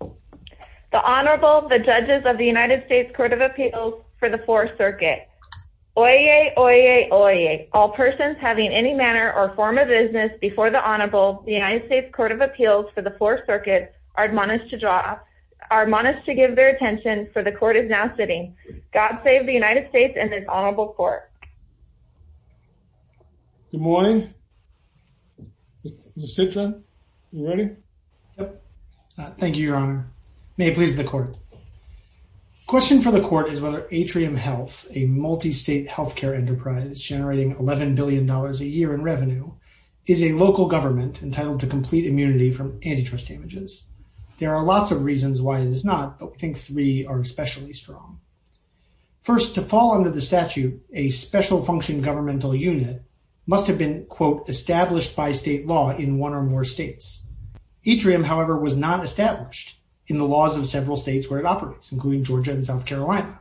The Honorable, the Judges of the United States Court of Appeals for the Fourth Circuit. Oyez, oyez, oyez, all persons having any manner or form of business before the Honorable, the United States Court of Appeals for the Fourth Circuit, are admonished to give their attention, for the Court is now sitting. God save the United States and this Honorable Court. Good morning. Sit down. You ready? Thank you, Your Honor. May it please the Court. The question for the Court is whether Atrium Health, a multi-state healthcare enterprise generating $11 billion a year in revenue, is a local government entitled to complete immunity from antitrust damages. There are lots of reasons why it is not, but we think three are especially strong. First, to fall under the statute, a special function governmental unit must have been, quote, established by state law in one or more states. Atrium, however, was not established in the laws of several states where it operates, including Georgia and South Carolina.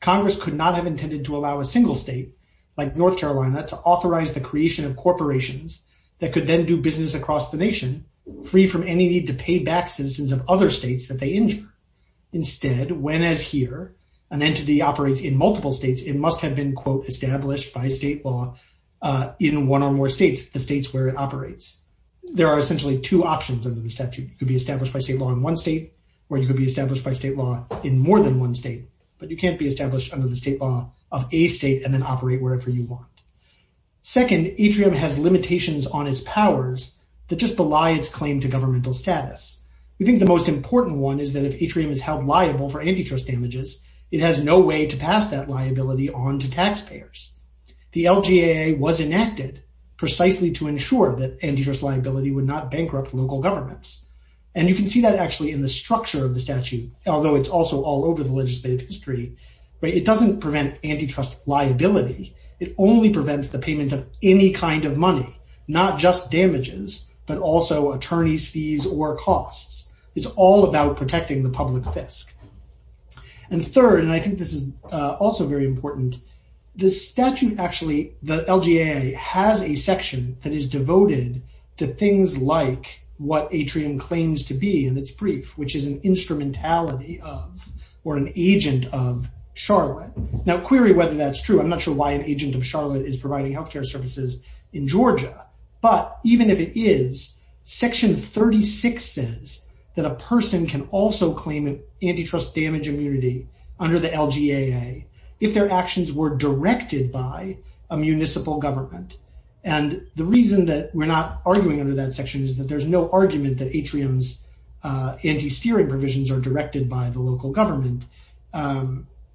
Congress could not have intended to allow a single state, like North Carolina, to authorize the creation of corporations that could then do business across the nation, free from any need to pay back citizens of other states that they injure. Instead, when, as here, an entity operates in multiple states, it must have been, quote, established by state law in one or more states, the states where it operates. There are essentially two options under the statute. It could be established by state law in one state, or it could be established by state law in more than one state. But you can't be established under the state law of a state and then operate wherever you want. Second, Atrium has limitations on its powers that just belie its claim to governmental status. We think the most important one is that if Atrium is held liable for antitrust damages, it has no way to pass that liability on to taxpayers. The LGAA was enacted precisely to ensure that antitrust liability would not bankrupt local governments. And you can see that actually in the structure of the statute, although it's also all over the legislative history. It doesn't prevent antitrust liability. It only prevents the payment of any kind of money, not just damages, but also attorneys' fees or costs. It's all about protecting the public fisc. And third, and I think this is also very important, the statute actually, the LGAA, has a section that is devoted to things like what Atrium claims to be in its brief, which is an instrumentality of or an agent of Charlotte. Now, query whether that's true. I'm not sure why an agent of Charlotte is providing health care services in Georgia. But even if it is, Section 36 says that a person can also claim an antitrust damage immunity under the LGAA if their actions were directed by a municipal government. And the reason that we're not arguing under that section is that there's no argument that Atrium's anti-steering provisions are directed by the local government.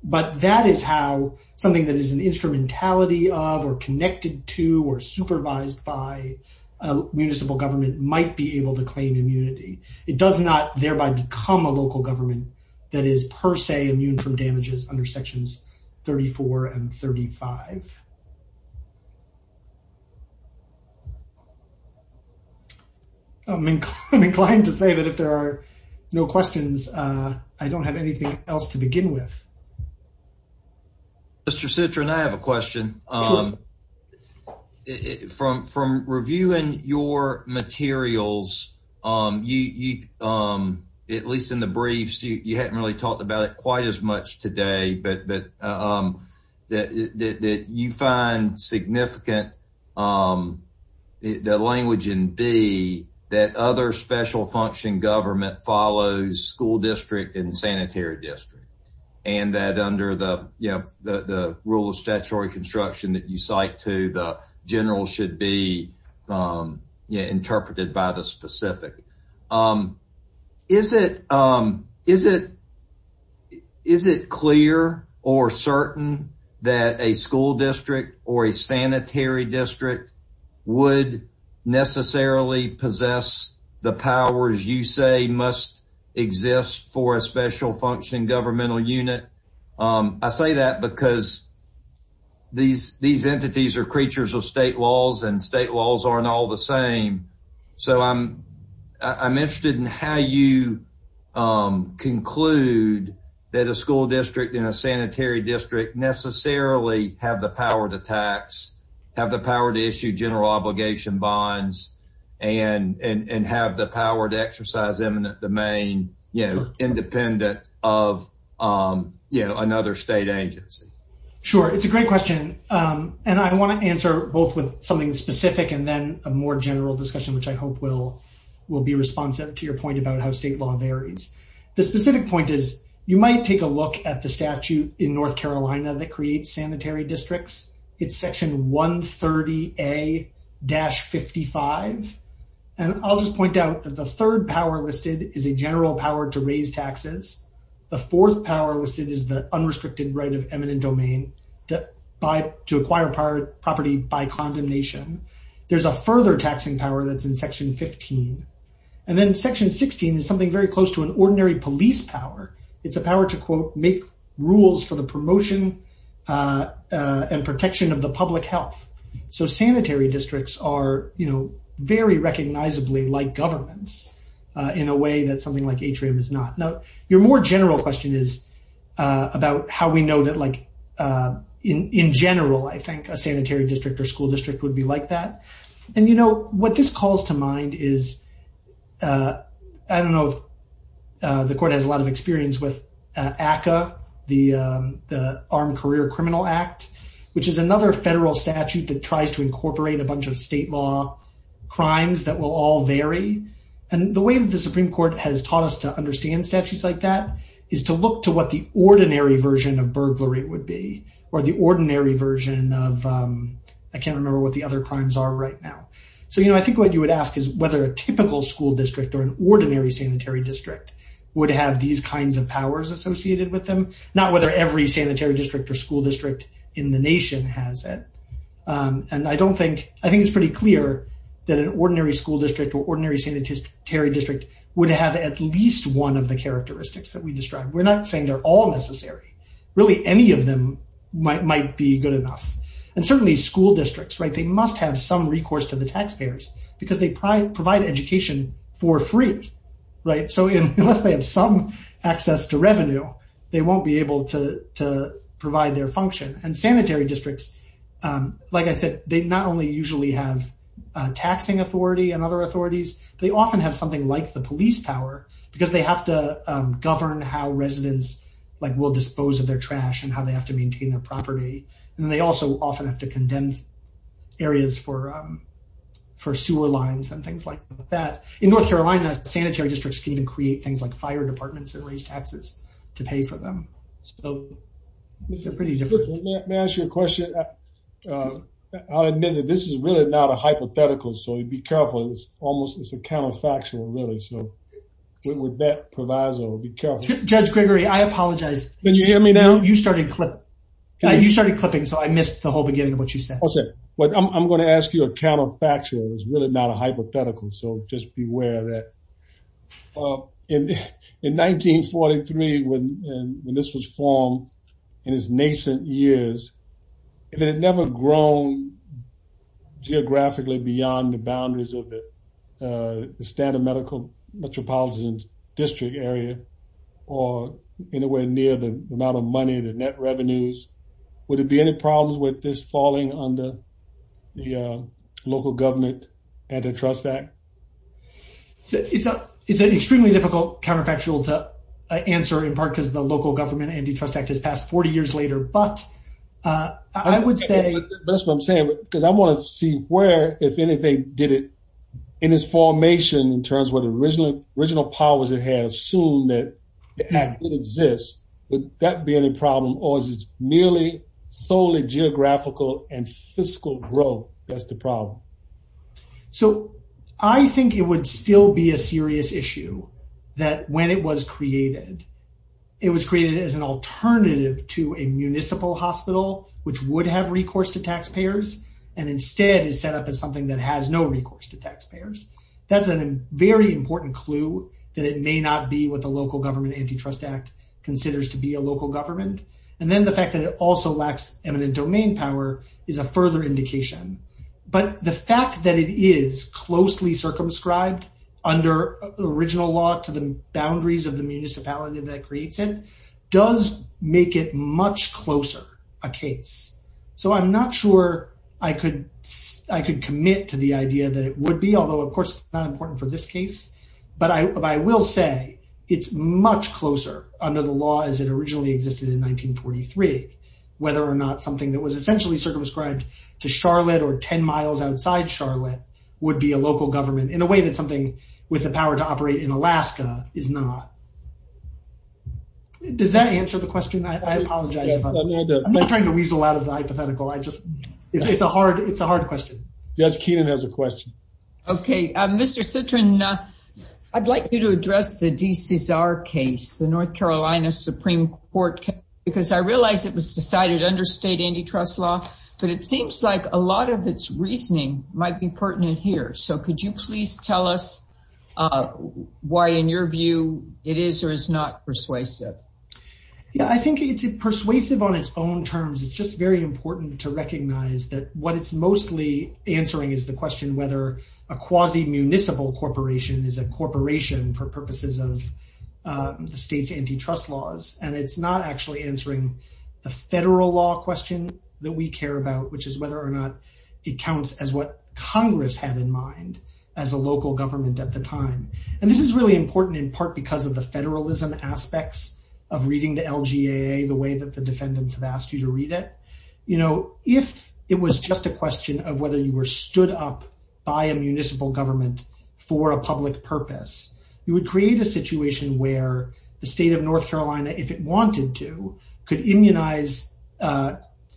But that is how something that is an instrumentality of or connected to or supervised by a municipal government might be able to claim immunity. It does not thereby become a local government that is per se immune from damages under Sections 34 and 35. I'm inclined to say that if there are no questions, I don't have anything else to begin with. Mr. Citrin, I have a question. From reviewing your materials, at least in the briefs, you hadn't really talked about it quite as much today. But you find significant that language in B, that other special function government follows school district and sanitary district. And that under the rule of statutory construction that you cite to, the general should be interpreted by the specific. Is it clear or certain that a school district or a sanitary district would necessarily possess the powers you say must exist for a special function governmental unit? I say that because these entities are creatures of state laws and state laws aren't all the same. So I'm interested in how you conclude that a school district and a sanitary district necessarily have the power to tax, have the power to issue general obligation bonds, and have the power to exercise eminent domain independent of another state agency. Sure, it's a great question. And I want to answer both with something specific and then a more general discussion, which I hope will be responsive to your point about how state law varies. The specific point is, you might take a look at the statute in North Carolina that creates sanitary districts. It's Section 130A-55. And I'll just point out that the third power listed is a general power to raise taxes. The fourth power listed is the unrestricted right of eminent domain to acquire property by condemnation. There's a further taxing power that's in Section 15. And then Section 16 is something very close to an ordinary police power. It's a power to, quote, make rules for the promotion and protection of the public health. So sanitary districts are, you know, very recognizably like governments in a way that something like Atrium is not. Now, your more general question is about how we know that, like, in general, I think a sanitary district or school district would be like that. And, you know, what this calls to mind is, I don't know if the Court has a lot of experience with ACCA, the Armed Career Criminal Act, which is another federal statute that tries to incorporate a bunch of state law crimes that will all vary. And the way that the Supreme Court has taught us to understand statutes like that is to look to what the ordinary version of burglary would be or the ordinary version of, I can't remember what the other crimes are right now. So, you know, I think what you would ask is whether a typical school district or an ordinary sanitary district would have these kinds of powers associated with them, not whether every sanitary district or school district in the nation has it. And I don't think, I think it's pretty clear that an ordinary school district or ordinary sanitary district would have at least one of the characteristics that we described. We're not saying they're all necessary. Really, any of them might be good enough. And certainly school districts, right, they must have some recourse to the taxpayers because they provide education for free. So unless they have some access to revenue, they won't be able to provide their function. And sanitary districts, like I said, they not only usually have a taxing authority and other authorities, they often have something like the police power because they have to govern how residents will dispose of their trash and how they have to maintain their property. And they also often have to condemn areas for sewer lines and things like that. In North Carolina, sanitary districts can even create things like fire departments that raise taxes to pay for them. So they're pretty different. May I ask you a question? I'll admit that this is really not a hypothetical, so be careful. It's almost, it's a counterfactual, really. So with that proviso, be careful. Judge Gregory, I apologize. Can you hear me now? You started clipping, so I missed the whole beginning of what you said. I'm going to ask you a counterfactual. It's really not a hypothetical, so just be aware of that. In 1943, when this was formed, in its nascent years, if it had never grown geographically beyond the boundaries of the standard medical metropolitan district area or anywhere near the amount of money, the net revenues, would there be any problems with this falling under the local government antitrust act? It's an extremely difficult counterfactual to answer, in part because the local government antitrust act has passed 40 years later. That's what I'm saying, because I want to see where, if anything, did it, in its formation, in terms of what original powers it has, assume that it exists, would that be any problem? Or is it merely solely geographical and fiscal growth that's the problem? I think it would still be a serious issue that when it was created, it was created as an alternative to a municipal hospital, which would have recourse to taxpayers, and instead is set up as something that has no recourse to taxpayers. That's a very important clue that it may not be what the local government antitrust act considers to be a local government. And then the fact that it also lacks eminent domain power is a further indication. But the fact that it is closely circumscribed under original law to the boundaries of the municipality that creates it does make it much closer a case. So I'm not sure I could commit to the idea that it would be, although, of course, not important for this case. But I will say it's much closer under the law as it originally existed in 1943, whether or not something that was essentially circumscribed to Charlotte or 10 miles outside Charlotte would be a local government in a way that something with the power to operate in Alaska is not. Does that answer the question? I apologize. I'm not trying to weasel out of the hypothetical. It's a hard question. Judge Keenan has a question. Okay. Mr. Citrin, I'd like you to address the DCSR case, the North Carolina Supreme Court case, because I realize it was decided under state antitrust law. But it seems like a lot of its reasoning might be pertinent here. So could you please tell us why, in your view, it is or is not persuasive? Yeah, I think it's persuasive on its own terms. It's just very important to recognize that what it's mostly answering is the question whether a quasi-municipal corporation is a corporation for purposes of the state's antitrust laws. And it's not actually answering the federal law question that we care about, which is whether or not it counts as what Congress had in mind as a local government at the time. And this is really important in part because of the federalism aspects of reading the LGAA the way that the defendants have asked you to read it. You know, if it was just a question of whether you were stood up by a municipal government for a public purpose, you would create a situation where the state of North Carolina, if it wanted to, could immunize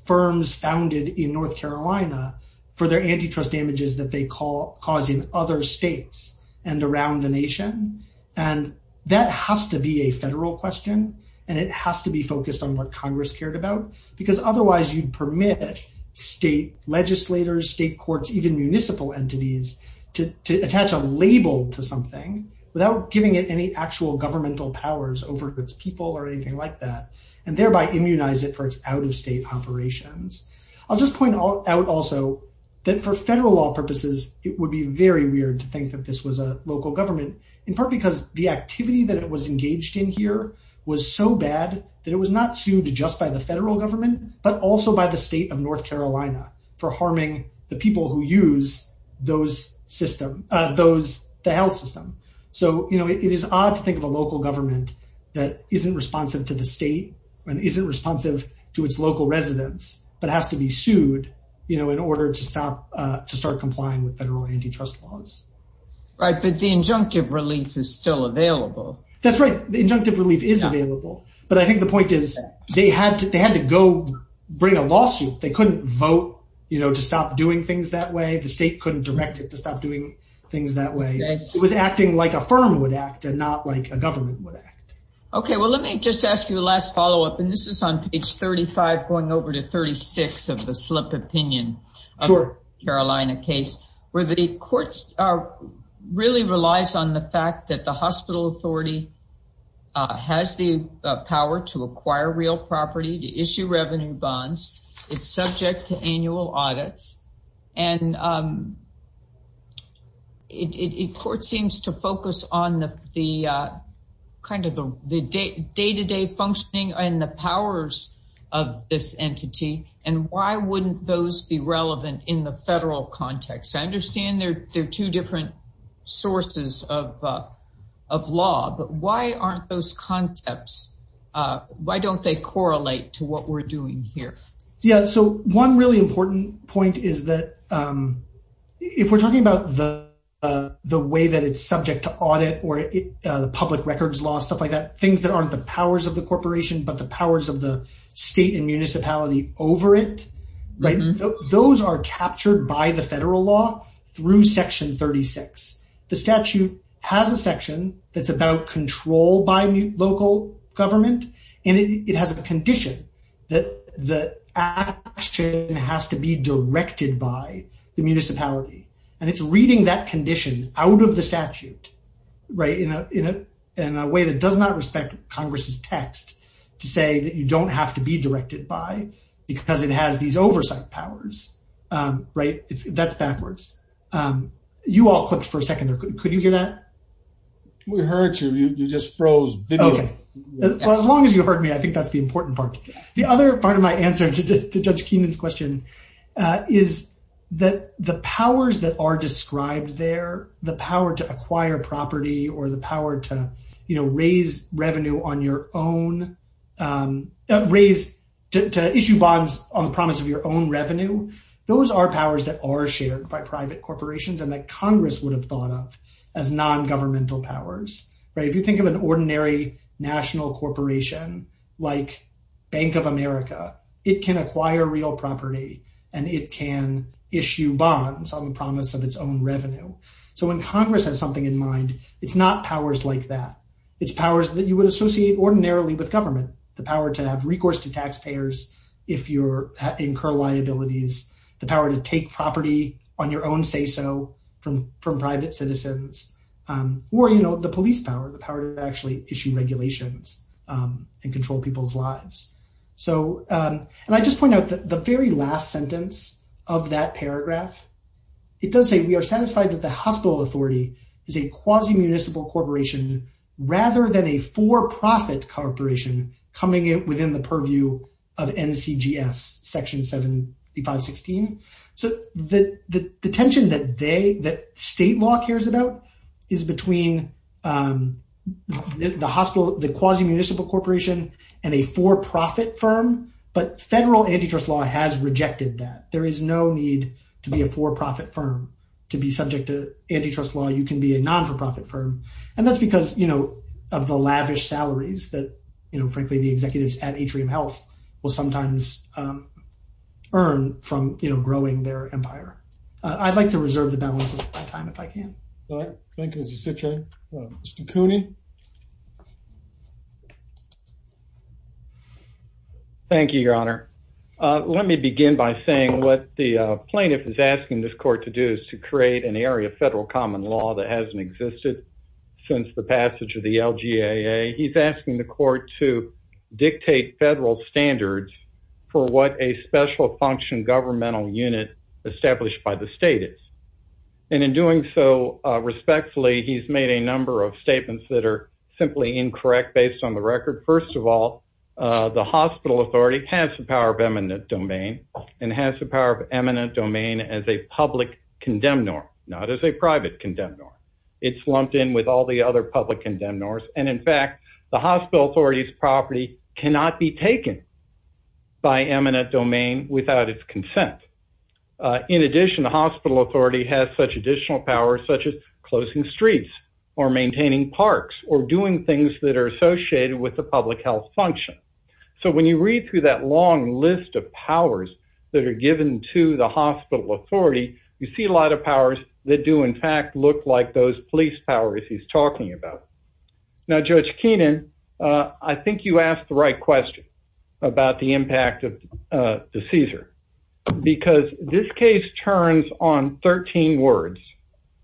firms founded in North Carolina for their antitrust damages that they cause in other states and around the nation. And that has to be a federal question, and it has to be focused on what Congress cared about, because otherwise you'd permit state legislators, state courts, even municipal entities to attach a label to something without giving it any actual governmental powers over its people or anything like that, and thereby immunize it for its out-of-state operations. I'll just point out also that for federal law purposes, it would be very weird to think that this was a local government, in part because the activity that it was engaged in here was so bad that it was not sued just by the federal government, but also by the state of North Carolina for harming the people who use the health system. So, you know, it is odd to think of a local government that isn't responsive to the state and isn't responsive to its local residents, but has to be sued, you know, in order to start complying with federal antitrust laws. Right, but the injunctive relief is still available. That's right. The injunctive relief is available. But I think the point is they had to go bring a lawsuit. They couldn't vote, you know, to stop doing things that way. The state couldn't direct it to stop doing things that way. It was acting like a firm would act and not like a government would act. Okay, well, let me just ask you the last follow-up, and this is on page 35, going over to 36 of the slip opinion of the Carolina case, where the courts really relies on the fact that the hospital authority has the power to acquire real property, to issue revenue bonds. It's subject to annual audits, and the court seems to focus on the kind of the day-to-day functioning and the powers of this entity, and why wouldn't those be relevant in the federal context? I understand they're two different sources of law, but why aren't those concepts, why don't they correlate to what we're doing here? Yeah, so one really important point is that if we're talking about the way that it's subject to audit or the public records law, stuff like that, things that aren't the powers of the corporation, but the powers of the state and municipality over it, right? Those are captured by the federal law through section 36. The statute has a section that's about control by local government, and it has a condition that the action has to be directed by the municipality. And it's reading that condition out of the statute, right, in a way that does not respect Congress's text to say that you don't have to be directed by, because it has these oversight powers, right? That's backwards. You all clipped for a second there. Could you hear that? We heard you. You just froze. As long as you heard me, I think that's the important part. The other part of my answer to Judge Keenan's question is that the powers that are described there, the power to acquire property or the power to, you know, raise revenue on your own, raise, to issue bonds on the promise of your own revenue, those are powers that are shared by private corporations and that Congress would have thought of as non-governmental powers. If you think of an ordinary national corporation like Bank of America, it can acquire real property and it can issue bonds on the promise of its own revenue. So when Congress has something in mind, it's not powers like that. It's powers that you would associate ordinarily with government, the power to have recourse to taxpayers if you incur liabilities, the power to take property on your own say-so from private citizens, or, you know, the police power, the power to actually issue regulations and control people's lives. And I just point out that the very last sentence of that paragraph, it does say, we are satisfied that the hospital authority is a quasi-municipal corporation rather than a for-profit corporation coming within the purview of NCGS Section 7516. So the tension that they, that state law cares about is between the hospital, the quasi-municipal corporation and a for-profit firm. But federal antitrust law has rejected that. There is no need to be a for-profit firm. To be subject to antitrust law, you can be a non-for-profit firm. And that's because, you know, of the lavish salaries that, you know, frankly, the executives at Atrium Health will sometimes earn from, you know, growing their empire. I'd like to reserve the balance of my time if I can. All right. Thank you. As you sit, Jay. Mr. Cooney. Thank you, Your Honor. Let me begin by saying what the plaintiff is asking this court to do is to create an area of federal common law that hasn't existed since the passage of the LGAA. He's asking the court to dictate federal standards for what a special function governmental unit established by the state is. And in doing so respectfully, he's made a number of statements that are simply incorrect based on the record. First of all, the hospital authority has the power of eminent domain and has the power of eminent domain as a public condemn norm, not as a private condemn norm. It's lumped in with all the other public condemn norms. And in fact, the hospital authority's property cannot be taken by eminent domain without its consent. In addition, the hospital authority has such additional powers such as closing streets or maintaining parks or doing things that are associated with the public health function. So when you read through that long list of powers that are given to the hospital authority, you see a lot of powers that do in fact look like those police powers he's talking about. Now, Judge Keenan, I think you asked the right question about the impact of the CSER because this case turns on 13 words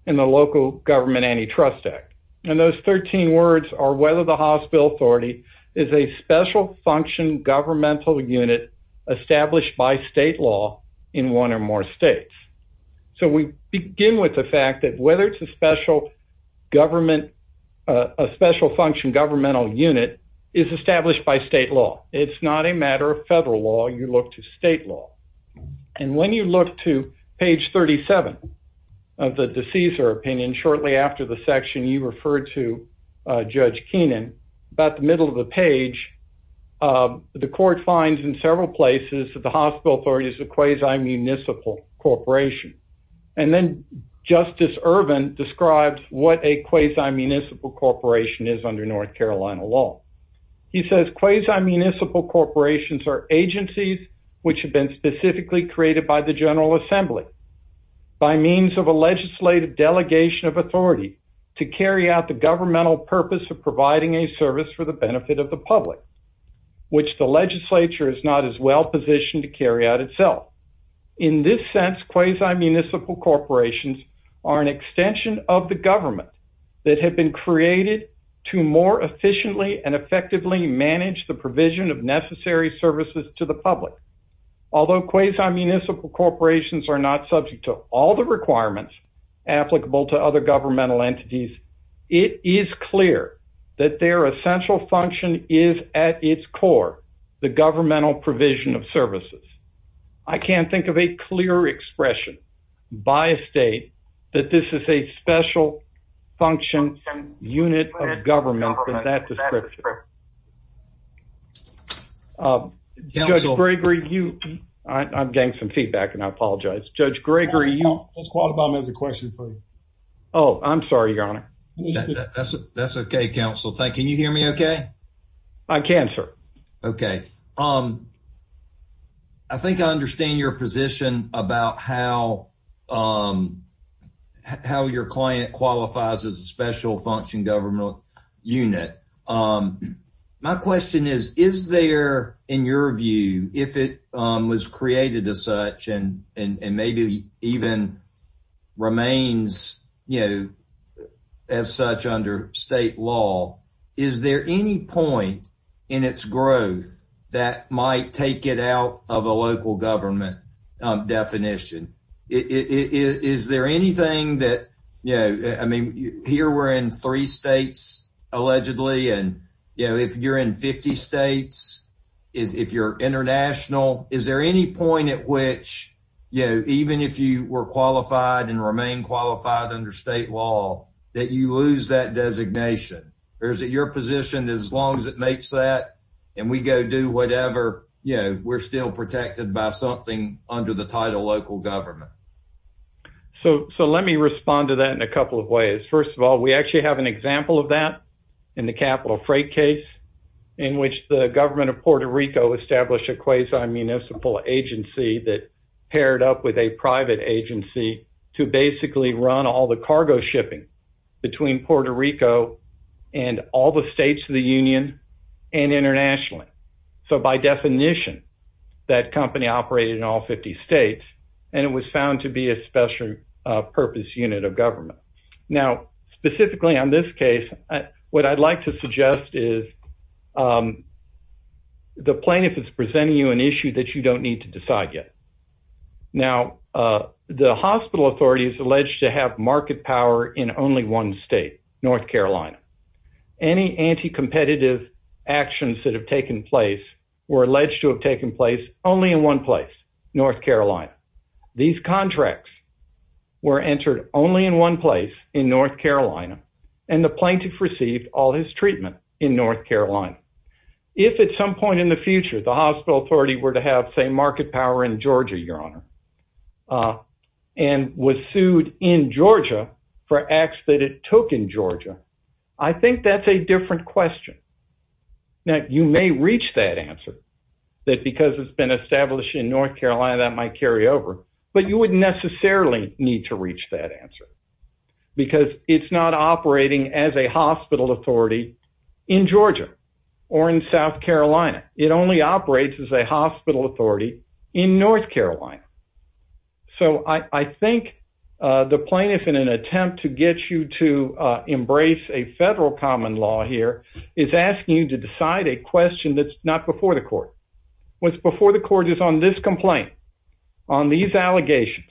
in the local government antitrust act. And those 13 words are whether the hospital authority is a special function governmental unit established by state law in one or more states. So we begin with the fact that whether it's a special government, a special function governmental unit is established by state law. It's not a matter of federal law. You look to state law. And when you look to page 37 of the CSER opinion shortly after the section you referred to, Judge Keenan, about the middle of the page, the court finds in several places that the hospital authority is a quasi-municipal corporation. And then Justice Ervin describes what a quasi-municipal corporation is under North Carolina law. He says quasi-municipal corporations are agencies which have been specifically created by the General Assembly by means of a legislative delegation of authority to carry out the governmental purpose of providing a service for the benefit of the public, which the legislature is not as well positioned to carry out itself. In this sense, quasi-municipal corporations are an extension of the government that have been created to more efficiently and effectively manage the provision of necessary services to the public. Although quasi-municipal corporations are not subject to all the requirements applicable to other governmental entities, it is clear that their essential function is at its core the governmental provision of services. I can't think of a clearer expression by a state that this is a special function unit of government than that description. Judge Gregory, you... I'm getting some feedback and I apologize. Judge Gregory, you... Judge Qualibam has a question for you. Oh, I'm sorry, Your Honor. That's okay, Counsel. Can you hear me okay? I can, sir. Okay. I think I understand your position about how your client qualifies as a special function governmental unit. My question is, is there, in your view, if it was created as such and maybe even remains as such under state law, is there any point in its growth that might take it out of a local government definition? Is there anything that... I mean, here we're in three states, allegedly, and if you're in 50 states, if you're international, is there any point at which, even if you were qualified and remain qualified under state law, that you lose that designation? Or is it your position, as long as it makes that and we go do whatever, you know, we're still protected by something under the title local government? So let me respond to that in a couple of ways. First of all, we actually have an example of that in the capital freight case in which the government of Puerto Rico established a quasi-municipal agency that paired up with a private agency to basically run all the cargo shipping between Puerto Rico and all the states of the union and internationally. So by definition, that company operated in all 50 states and it was found to be a special purpose unit of government. Now, specifically on this case, what I'd like to suggest is the plaintiff is presenting you an issue that you don't need to decide yet. Now, the hospital authority is alleged to have market power in only one state, North Carolina. Any anti-competitive actions that have taken place were alleged to have taken place only in one place, North Carolina. These contracts were entered only in one place, in North Carolina, and the plaintiff received all his treatment in North Carolina. If at some point in the future, the hospital authority were to have, say, market power in Georgia, Your Honor, and was sued in Georgia for acts that it took in Georgia, I think that's a different question. Now, you may reach that answer that because it's been established in North Carolina, that might carry over, but you wouldn't necessarily need to reach that answer because it's not operating as a hospital authority in Georgia or in South Carolina. It only operates as a hospital authority in North Carolina. So I think the plaintiff, in an attempt to get you to embrace a federal common law here, is asking you to decide a question that's not before the court. What's before the court is on this complaint, on these allegations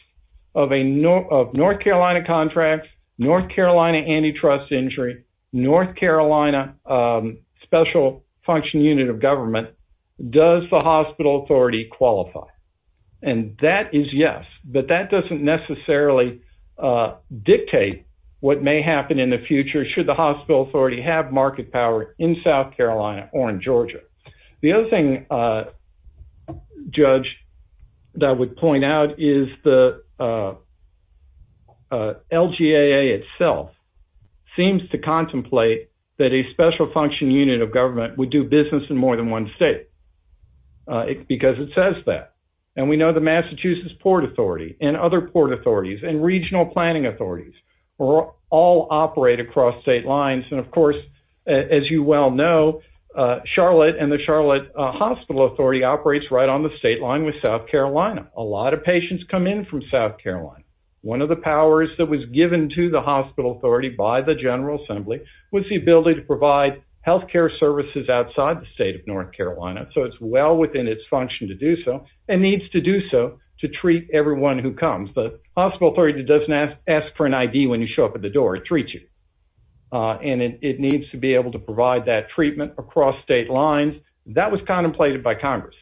of North Carolina contracts, North Carolina antitrust injury, North Carolina special function unit of government. Does the hospital authority qualify? And that is yes, but that doesn't necessarily dictate what may happen in the future should the hospital authority have market power in South Carolina or in Georgia. The other thing, Judge, that I would point out is the LGAA itself seems to contemplate that a special function unit of government would do business in more than one state. Because it says that. And we know the Massachusetts Port Authority and other port authorities and regional planning authorities all operate across state lines. And of course, as you well know, Charlotte and the Charlotte Hospital Authority operates right on the state line with South Carolina. A lot of patients come in from South Carolina. One of the powers that was given to the hospital authority by the General Assembly was the ability to provide health care services outside the state of North Carolina. So it's well within its function to do so and needs to do so to treat everyone who comes. The hospital authority doesn't ask for an ID when you show up at the door. It treats you. And it needs to be able to provide that treatment across state lines. That was contemplated by Congress.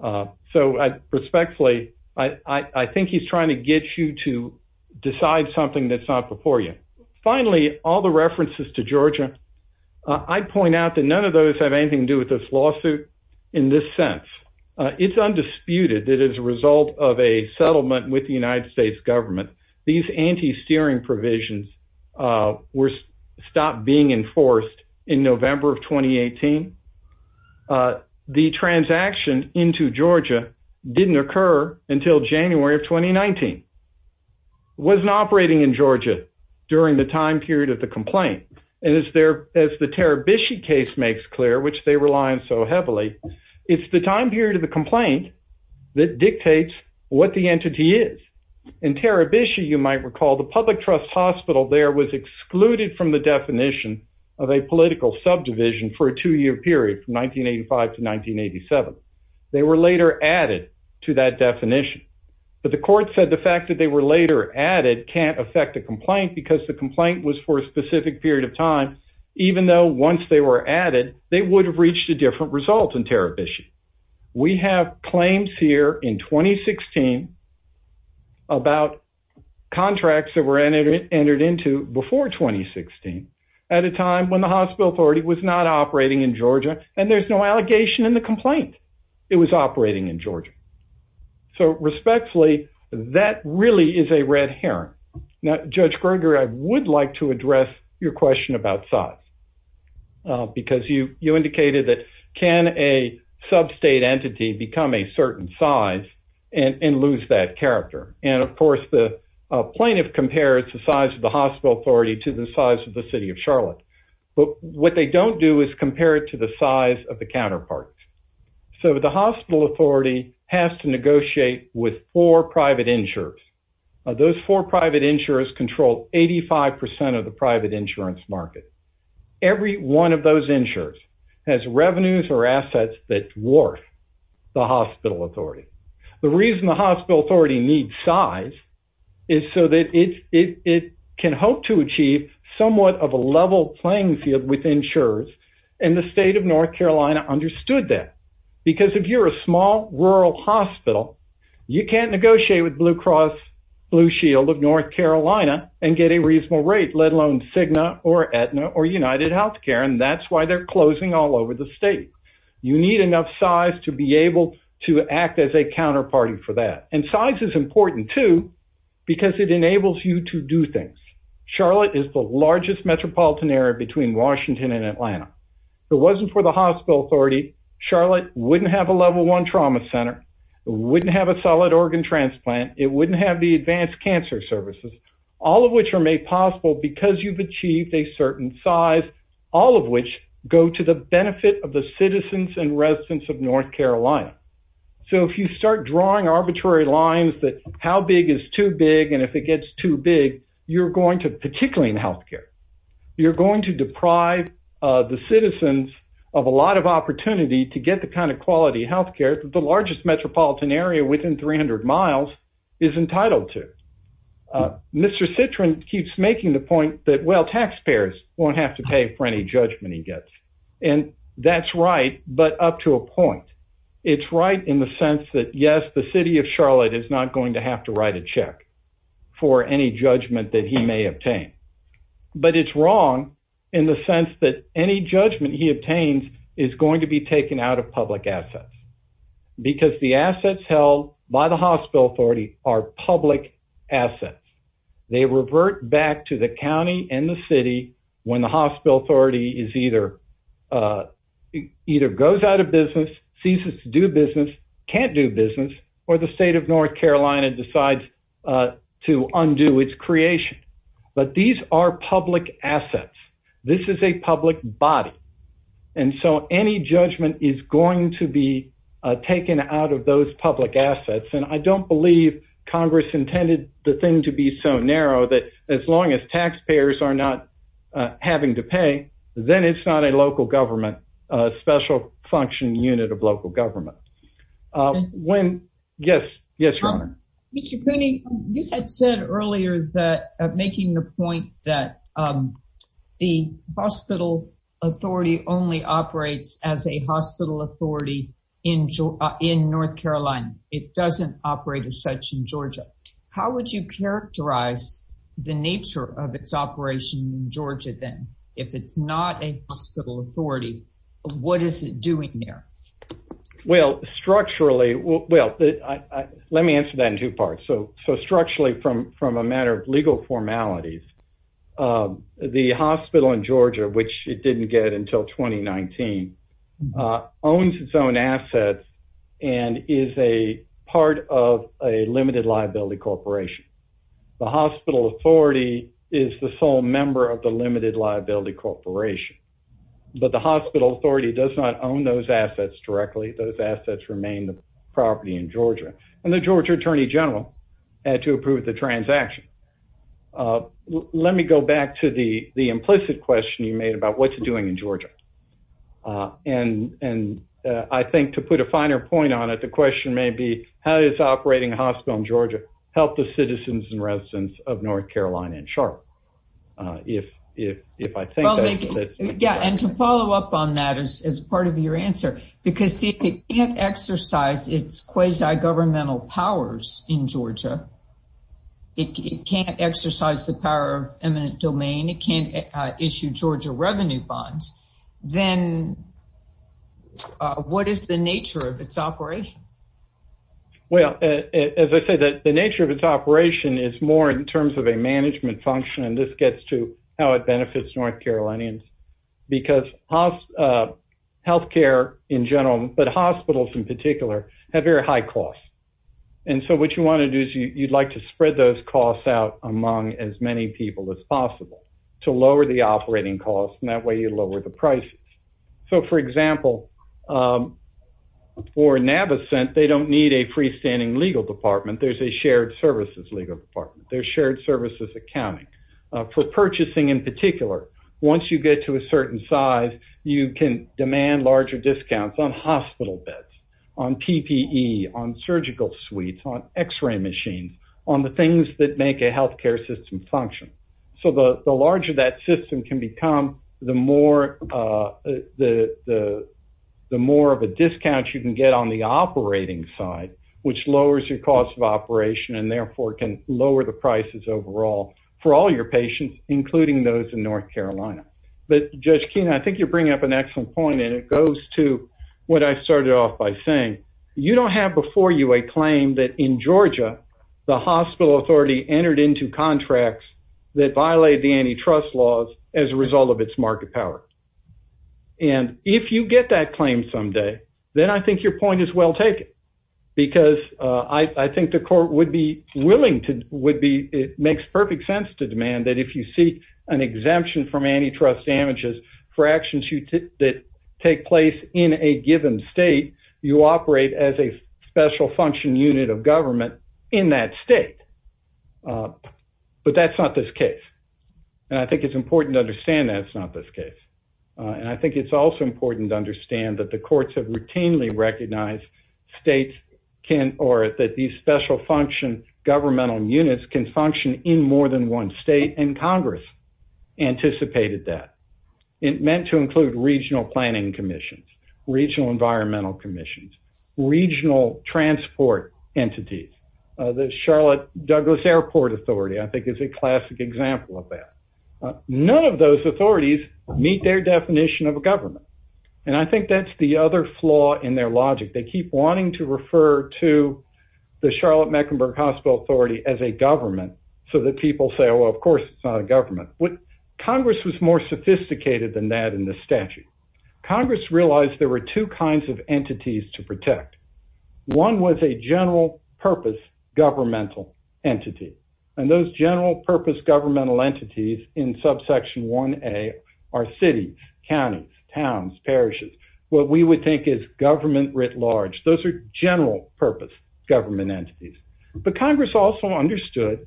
So respectfully, I think he's trying to get you to decide something that's not before you. Finally, all the references to Georgia. I'd point out that none of those have anything to do with this lawsuit in this sense. It's undisputed that as a result of a settlement with the United States government, these anti-steering provisions were stopped being enforced in November of 2018. The transaction into Georgia didn't occur until January of 2019. It wasn't operating in Georgia during the time period of the complaint. And as the Tarabishi case makes clear, which they rely on so heavily, it's the time period of the complaint that dictates what the entity is. In Tarabishi, you might recall, the public trust hospital there was excluded from the definition of a political subdivision for a two-year period from 1985 to 1987. They were later added to that definition. But the court said the fact that they were later added can't affect the complaint because the complaint was for a specific period of time, even though once they were added, they would have reached a different result in Tarabishi. We have claims here in 2016 about contracts that were entered into before 2016 at a time when the hospital authority was not operating in Georgia, and there's no allegation in the complaint. It was operating in Georgia. So respectfully, that really is a red herring. Now, Judge Gerger, I would like to address your question about size. Because you indicated that can a sub-state entity become a certain size and lose that character? And of course, the plaintiff compares the size of the hospital authority to the size of the city of Charlotte. But what they don't do is compare it to the size of the counterpart. So the hospital authority has to negotiate with four private insurers. Those four private insurers control 85% of the private insurance market. Every one of those insurers has revenues or assets that's worth the hospital authority. The reason the hospital authority needs size is so that it can hope to achieve somewhat of a level playing field with insurers, and the state of North Carolina understood that. Because if you're a small rural hospital, you can't negotiate with Blue Cross Blue Shield of North Carolina and get a reasonable rate, let alone Cigna or Aetna or UnitedHealthcare, and that's why they're closing all over the state. You need enough size to be able to act as a counterparty for that. And size is important, too, because it enables you to do things. Charlotte is the largest metropolitan area between Washington and Atlanta. If it wasn't for the hospital authority, Charlotte wouldn't have a level one trauma center, wouldn't have a solid organ transplant, it wouldn't have the advanced cancer services, all of which are made possible because you've achieved a certain size, all of which go to the benefit of the citizens and residents of North Carolina. So if you start drawing arbitrary lines that how big is too big and if it gets too big, you're going to, particularly in health care, you're going to deprive the citizens of a lot of opportunity to get the kind of quality health care that the largest metropolitan area within 300 miles is entitled to. Mr. Citrin keeps making the point that, well, taxpayers won't have to pay for any judgment he gets. And that's right, but up to a point. It's right in the sense that, yes, the city of Charlotte is not going to have to write a check for any judgment that he may obtain. But it's wrong in the sense that any judgment he obtains is going to be taken out of public assets because the assets held by the hospital authority are public assets. They revert back to the county and the city when the hospital authority either goes out of business, ceases to do business, can't do business, or the state of North Carolina decides to undo its creation. But these are public assets. This is a public body. And so any judgment is going to be taken out of those public assets. And I don't believe Congress intended the thing to be so narrow that as long as taxpayers are not having to pay, then it's not a local government, a special functioning unit of local government. Yes, yes. Mr. Cooney, you had said earlier that making the point that the hospital authority only operates as a hospital authority in North Carolina. It doesn't operate as such in Georgia. How would you characterize the nature of its operation in Georgia, then, if it's not a hospital authority? What is it doing there? Well, structurally, well, let me answer that in two parts. So structurally, from a matter of legal formalities, the hospital in Georgia, which it didn't get until 2019, owns its own assets and is a part of a limited liability corporation. The hospital authority is the sole member of the limited liability corporation. But the hospital authority does not own those assets directly. Those assets remain the property in Georgia. And the Georgia attorney general had to approve the transaction. Let me go back to the implicit question you made about what you're doing in Georgia. And I think to put a finer point on it, the question may be, how is operating a hospital in Georgia help the citizens and residents of North Carolina and Charlotte? If I think that's... Yeah, and to follow up on that as part of your answer, because if it can't exercise its quasi governmental powers in Georgia, it can't exercise the power of eminent domain, it can't issue Georgia revenue bonds, then what is the nature of its operation? Well, as I said, the nature of its operation is more in terms of a management function. And this gets to how it benefits North Carolinians, because health care in general, but hospitals in particular, have very high costs. And so what you want to do is you'd like to spread those costs out among as many people as possible to lower the operating costs. And that way you lower the prices. So for example, for Navicent, they don't need a freestanding legal department. There's a shared services legal department. There's shared services accounting. For purchasing in particular, once you get to a certain size, you can demand larger discounts on hospital beds, on PPE, on surgical suites, on x-ray machines, on the things that make a health care system function. So the larger that system can become, the more of a discount you can get on the operating side, which lowers your cost of operation and therefore can lower the prices overall for all your patients, including those in North Carolina. But Judge Keene, I think you're bringing up an excellent point. And it goes to what I started off by saying. You don't have before you a claim that in Georgia, the hospital authority entered into contracts that violate the antitrust laws as a result of its market power. And if you get that claim someday, then I think your point is well taken. Because I think the court would be willing to, would be, it makes perfect sense to demand that if you seek an exemption from antitrust damages for actions that take place in a given state, you operate as a special function unit of government in that state. But that's not this case. And I think it's important to understand that it's not this case. And I think it's also important to understand that the courts have routinely recognized states can, or that these special function governmental units can function in more than one state. And Congress anticipated that. It meant to include regional planning commissions, regional environmental commissions, regional transport entities. The Charlotte Douglas Airport Authority, I think, is a classic example of that. None of those authorities meet their definition of a government. And I think that's the other flaw in their logic. They keep wanting to refer to the Charlotte Mecklenburg Hospital Authority as a government so that people say, well, of course, it's not a government. Congress was more sophisticated than that in the statute. Congress realized there were two kinds of entities to protect. One was a general purpose governmental entity. And those general purpose governmental entities in subsection 1A are cities, counties, towns, parishes. What we would think is government writ large. Those are general purpose government entities. But Congress also understood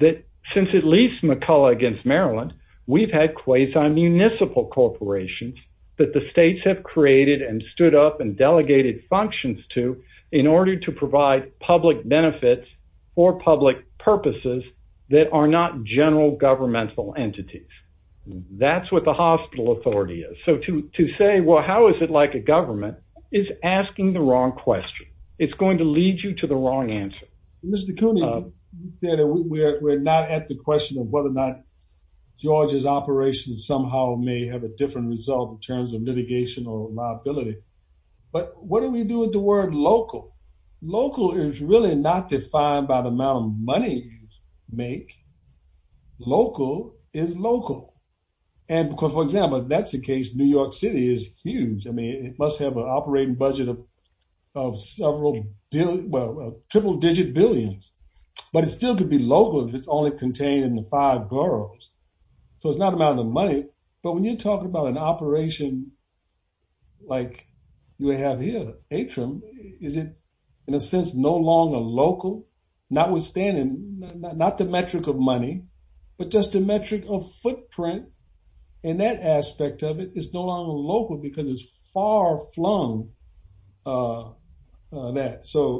that since at least McCullough against Maryland, we've had quasi-municipal corporations that the states have created and stood up and delegated functions to in order to provide public benefits for public purposes that are not general governmental entities. That's what the hospital authority is. So to say, well, how is it like a government is asking the wrong question. It's going to lead you to the wrong answer. Mr. Cooney, we're not at the question of whether or not Georgia's operations somehow may have a different result in terms of litigation or liability. But what do we do with the word local? Local is really not defined by the amount of money you make. Local is local. And for example, that's the case. New York City is huge. I mean, it must have an operating budget of several, well, triple-digit billions. But it still could be local if it's only contained in the five boroughs. So it's not the amount of money. But when you're talking about an operation like you have here, Atrium, is it, in a sense, no longer local, notwithstanding not the metric of money, but just the metric of footprint? And that aspect of it is no longer local because it's far-flung. So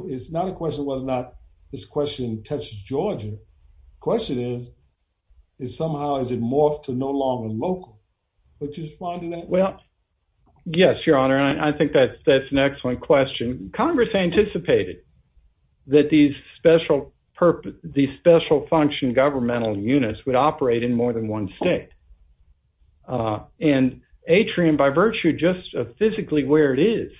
it's not a question of whether or not this question touches Georgia. The question is, is somehow has it morphed to no longer local? Would you respond to that? Well, yes, Your Honor, and I think that's an excellent question. Congress anticipated that these special-function governmental units would operate in more than one state. And Atrium, by virtue just of physically where it is,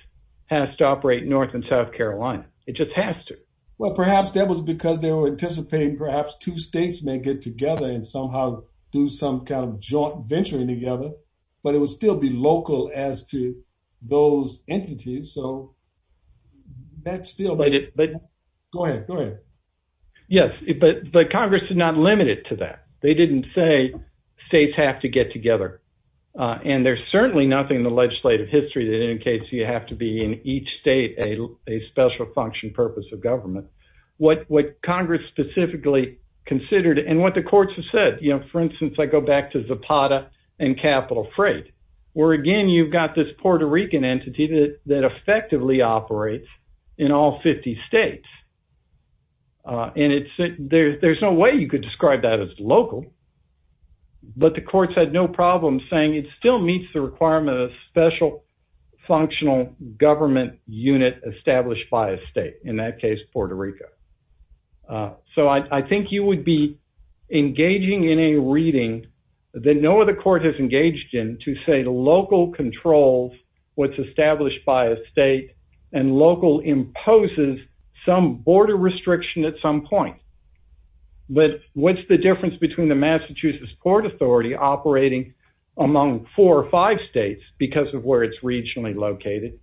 has to operate in North and South Carolina. It just has to. Well, perhaps that was because they were anticipating perhaps two states may get together and somehow do some kind of joint venturing together. But it would still be local as to those entities. So that's still. Go ahead, go ahead. Yes, but Congress is not limited to that. They didn't say states have to get together. And there's certainly nothing in the legislative history that indicates you have to be in each state a special-function purpose of government. What Congress specifically considered and what the courts have said, you know, for instance, I go back to Zapata and Capital Freight, where, again, you've got this Puerto Rican entity that effectively operates in all 50 states. And there's no way you could describe that as local. But the courts had no problem saying it still meets the requirement of special-functional government unit established by a state, in that case, Puerto Rico. So I think you would be engaging in a reading that no other court has engaged in to say the local controls what's established by a state and local imposes some border restriction at some point. But what's the difference between the Massachusetts Court Authority operating among four or five states because of where it's regionally located,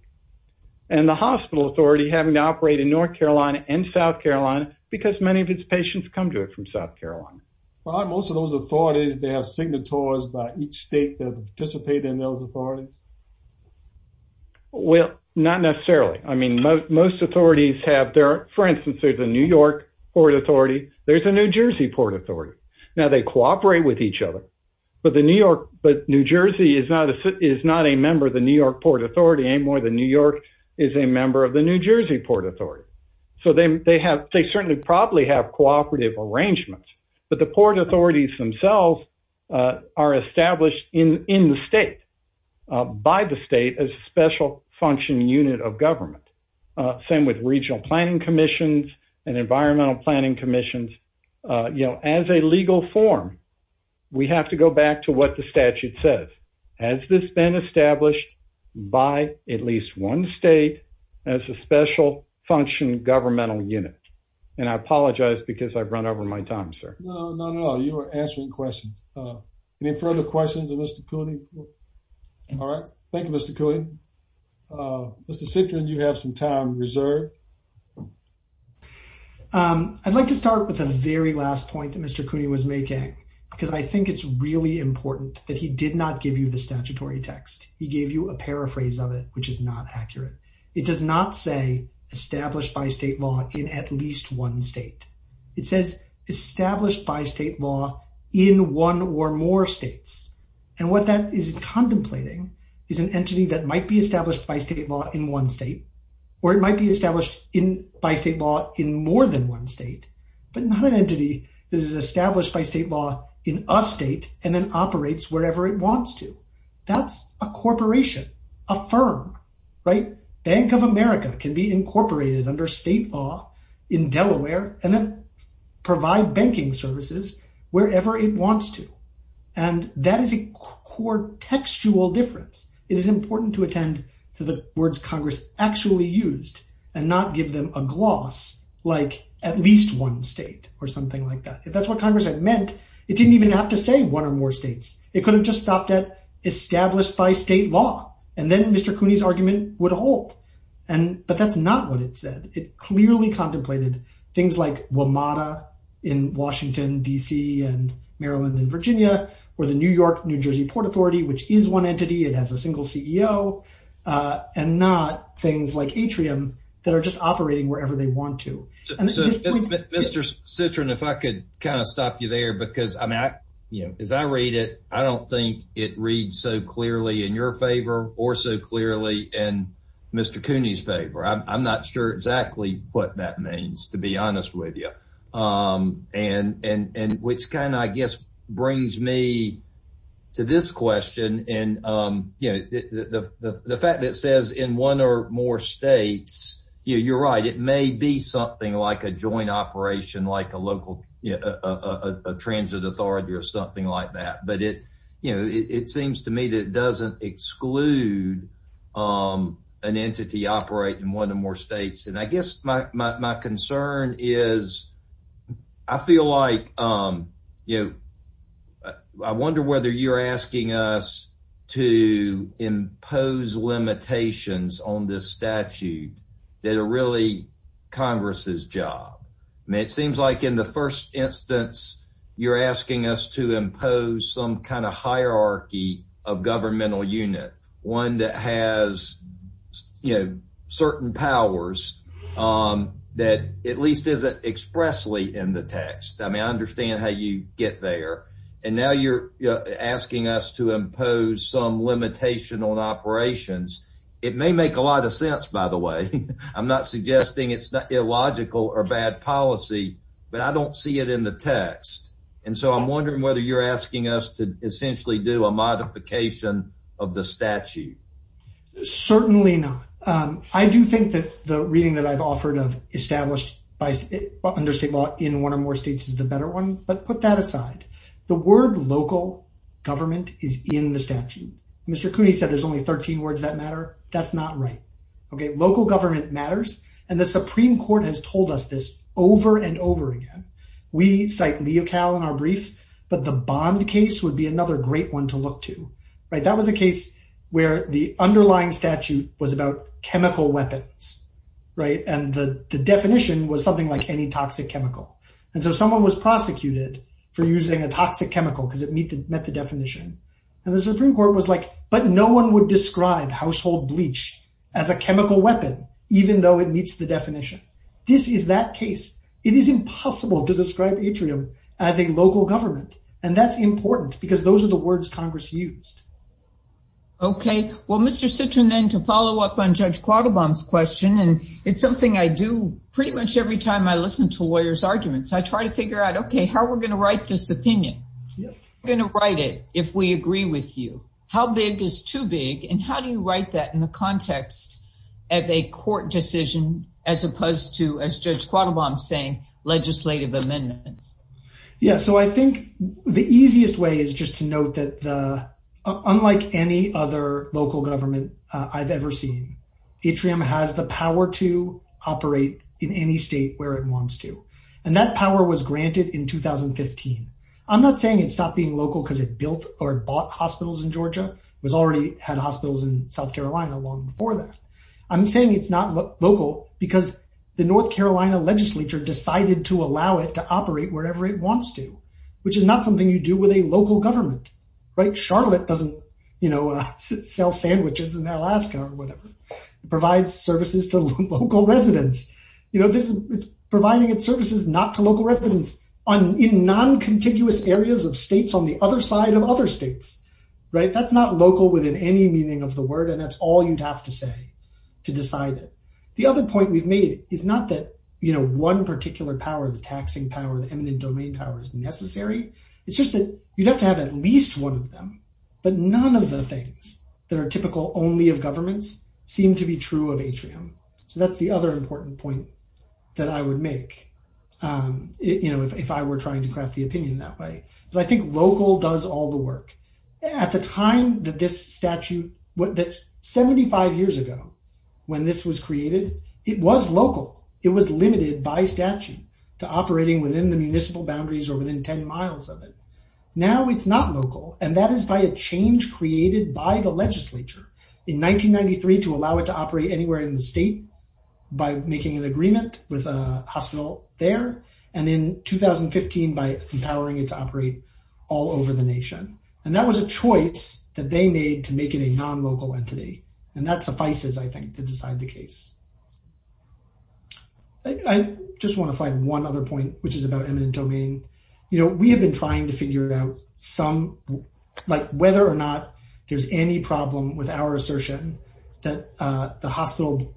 and the hospital authority having to operate in North Carolina and South Carolina because many of its patients come to it from South Carolina? Well, aren't most of those authorities, they have signatories by each state that participate in those authorities? Well, not necessarily. I mean, most authorities have their – for instance, there's a New York Port Authority. There's a New Jersey Port Authority. Now, they cooperate with each other, but New Jersey is not a member of the New York Port Authority anymore. The New York is a member of the New Jersey Port Authority. So they certainly probably have cooperative arrangements, but the port authorities themselves are established in the state, by the state, as a special-function unit of government. Same with regional planning commissions and environmental planning commissions. As a legal form, we have to go back to what the statute says. Has this been established by at least one state as a special-function governmental unit? And I apologize because I've run over my time, sir. No, no, no. You are answering questions. Any further questions of Mr. Cooney? All right. Thank you, Mr. Cooney. Mr. Citrin, you have some time reserved. I'd like to start with the very last point that Mr. Cooney was making because I think it's really important that he did not give you the statutory text. He gave you a paraphrase of it, which is not accurate. It does not say established by state law in at least one state. It says established by state law in one or more states. And what that is contemplating is an entity that might be established by state law in one state or it might be established by state law in more than one state, but not an entity that is established by state law in a state and then operates wherever it wants to. That's a corporation, a firm, right? Bank of America can be incorporated under state law in Delaware and then provide banking services wherever it wants to. And that is a core textual difference. It is important to attend to the words Congress actually used and not give them a gloss like at least one state or something like that. If that's what Congress had meant, it didn't even have to say one or more states. It could have just stopped at established by state law. And then Mr. Cooney's argument would hold. But that's not what it said. It clearly contemplated things like WMATA in Washington, D.C. and Maryland and Virginia or the New York-New Jersey Port Authority, which is one entity. It has a single CEO and not things like Atrium that are just operating wherever they want to. Mr. Citron, if I could kind of stop you there, because as I read it, I don't think it reads so clearly in your favor or so clearly in Mr. Cooney's favor. I'm not sure exactly what that means, to be honest with you. And which kind of, I guess, brings me to this question. And the fact that it says in one or more states, you're right. It may be something like a joint operation, like a local transit authority or something like that. But it seems to me that it doesn't exclude an entity operating in one or more states. And I guess my concern is, I feel like, you know, I wonder whether you're asking us to impose limitations on this statute that are really Congress's job. I mean, it seems like in the first instance, you're asking us to impose some kind of hierarchy of governmental unit, one that has, you know, certain powers that at least isn't expressly in the text. I mean, I understand how you get there. And now you're asking us to impose some limitation on operations. It may make a lot of sense, by the way. I'm not suggesting it's illogical or bad policy, but I don't see it in the text. And so I'm wondering whether you're asking us to essentially do a modification of the statute. Certainly not. I do think that the reading that I've offered of established under state law in one or more states is the better one. But put that aside. The word local government is in the statute. Mr. Cooney said there's only 13 words that matter. That's not right. Okay. Local government matters. And the Supreme Court has told us this over and over again. We cite Leocal in our brief, but the Bond case would be another great one to look to. Right. That was a case where the underlying statute was about chemical weapons. Right. And the definition was something like any toxic chemical. And so someone was prosecuted for using a toxic chemical because it met the definition. And the Supreme Court was like, but no one would describe household bleach as a chemical weapon, even though it meets the definition. This is that case. It is impossible to describe atrium as a local government. And that's important because those are the words Congress used. Okay. Well, Mr. Citrin, then to follow up on Judge Quattlebaum's question. And it's something I do pretty much every time I listen to lawyers' arguments. I try to figure out, okay, how we're going to write this opinion. We're going to write it if we agree with you. How big is too big? And how do you write that in the context of a court decision as opposed to, as Judge Quattlebaum's saying, legislative amendments? Yeah. So I think the easiest way is just to note that unlike any other local government I've ever seen, atrium has the power to operate in any state where it wants to. And that power was granted in 2015. I'm not saying it stopped being local because it built or bought hospitals in Georgia. It already had hospitals in South Carolina long before that. I'm saying it's not local because the North Carolina legislature decided to allow it to operate wherever it wants to, which is not something you do with a local government. Right? Charlotte doesn't, you know, sell sandwiches in Alaska or whatever. It provides services to local residents. It's providing its services not to local residents in non-contiguous areas of states on the other side of other states. Right? That's not local within any meaning of the word, and that's all you'd have to say to decide it. The other point we've made is not that, you know, one particular power, the taxing power, the eminent domain power is necessary. It's just that you'd have to have at least one of them. But none of the things that are typical only of governments seem to be true of atrium. So that's the other important point that I would make, you know, if I were trying to craft the opinion that way. But I think local does all the work. At the time that this statute, 75 years ago when this was created, it was local. It was limited by statute to operating within the municipal boundaries or within 10 miles of it. Now it's not local. And that is by a change created by the legislature in 1993 to allow it to operate anywhere in the state by making an agreement with a hospital there. And in 2015, by empowering it to operate all over the nation. And that was a choice that they made to make it a non-local entity. And that suffices, I think, to decide the case. I just want to flag one other point, which is about eminent domain. You know, we have been trying to figure out whether or not there's any problem with our assertion that the hospital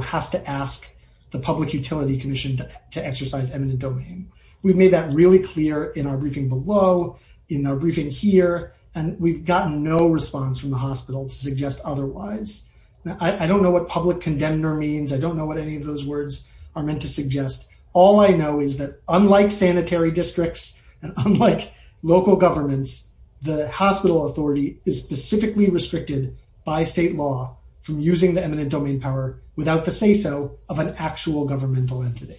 has to ask the Public Utility Commission to exercise eminent domain. We've made that really clear in our briefing below, in our briefing here. And we've gotten no response from the hospital to suggest otherwise. I don't know what public condemner means. I don't know what any of those words are meant to suggest. All I know is that unlike sanitary districts and unlike local governments, the hospital authority is specifically restricted by state law from using the eminent domain power without the say-so of an actual governmental entity.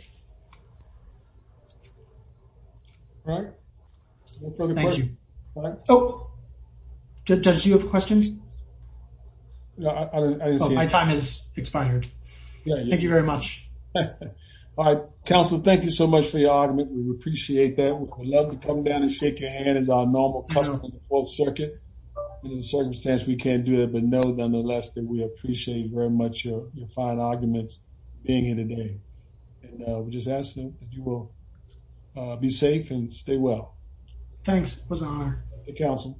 All right. Thank you. Oh! Judge, do you have questions? No, I didn't see any. Oh, my time has expired. Thank you very much. All right. Counsel, thank you so much for your argument. We appreciate that. We'd love to come down and shake your hand as our normal customer in the Fourth Circuit. In the circumstance, we can't do that. But know, nonetheless, that we appreciate very much your fine arguments being here today. And we're just asking that you will be safe and stay well. Thanks. It was an honor. Thank you, Counsel.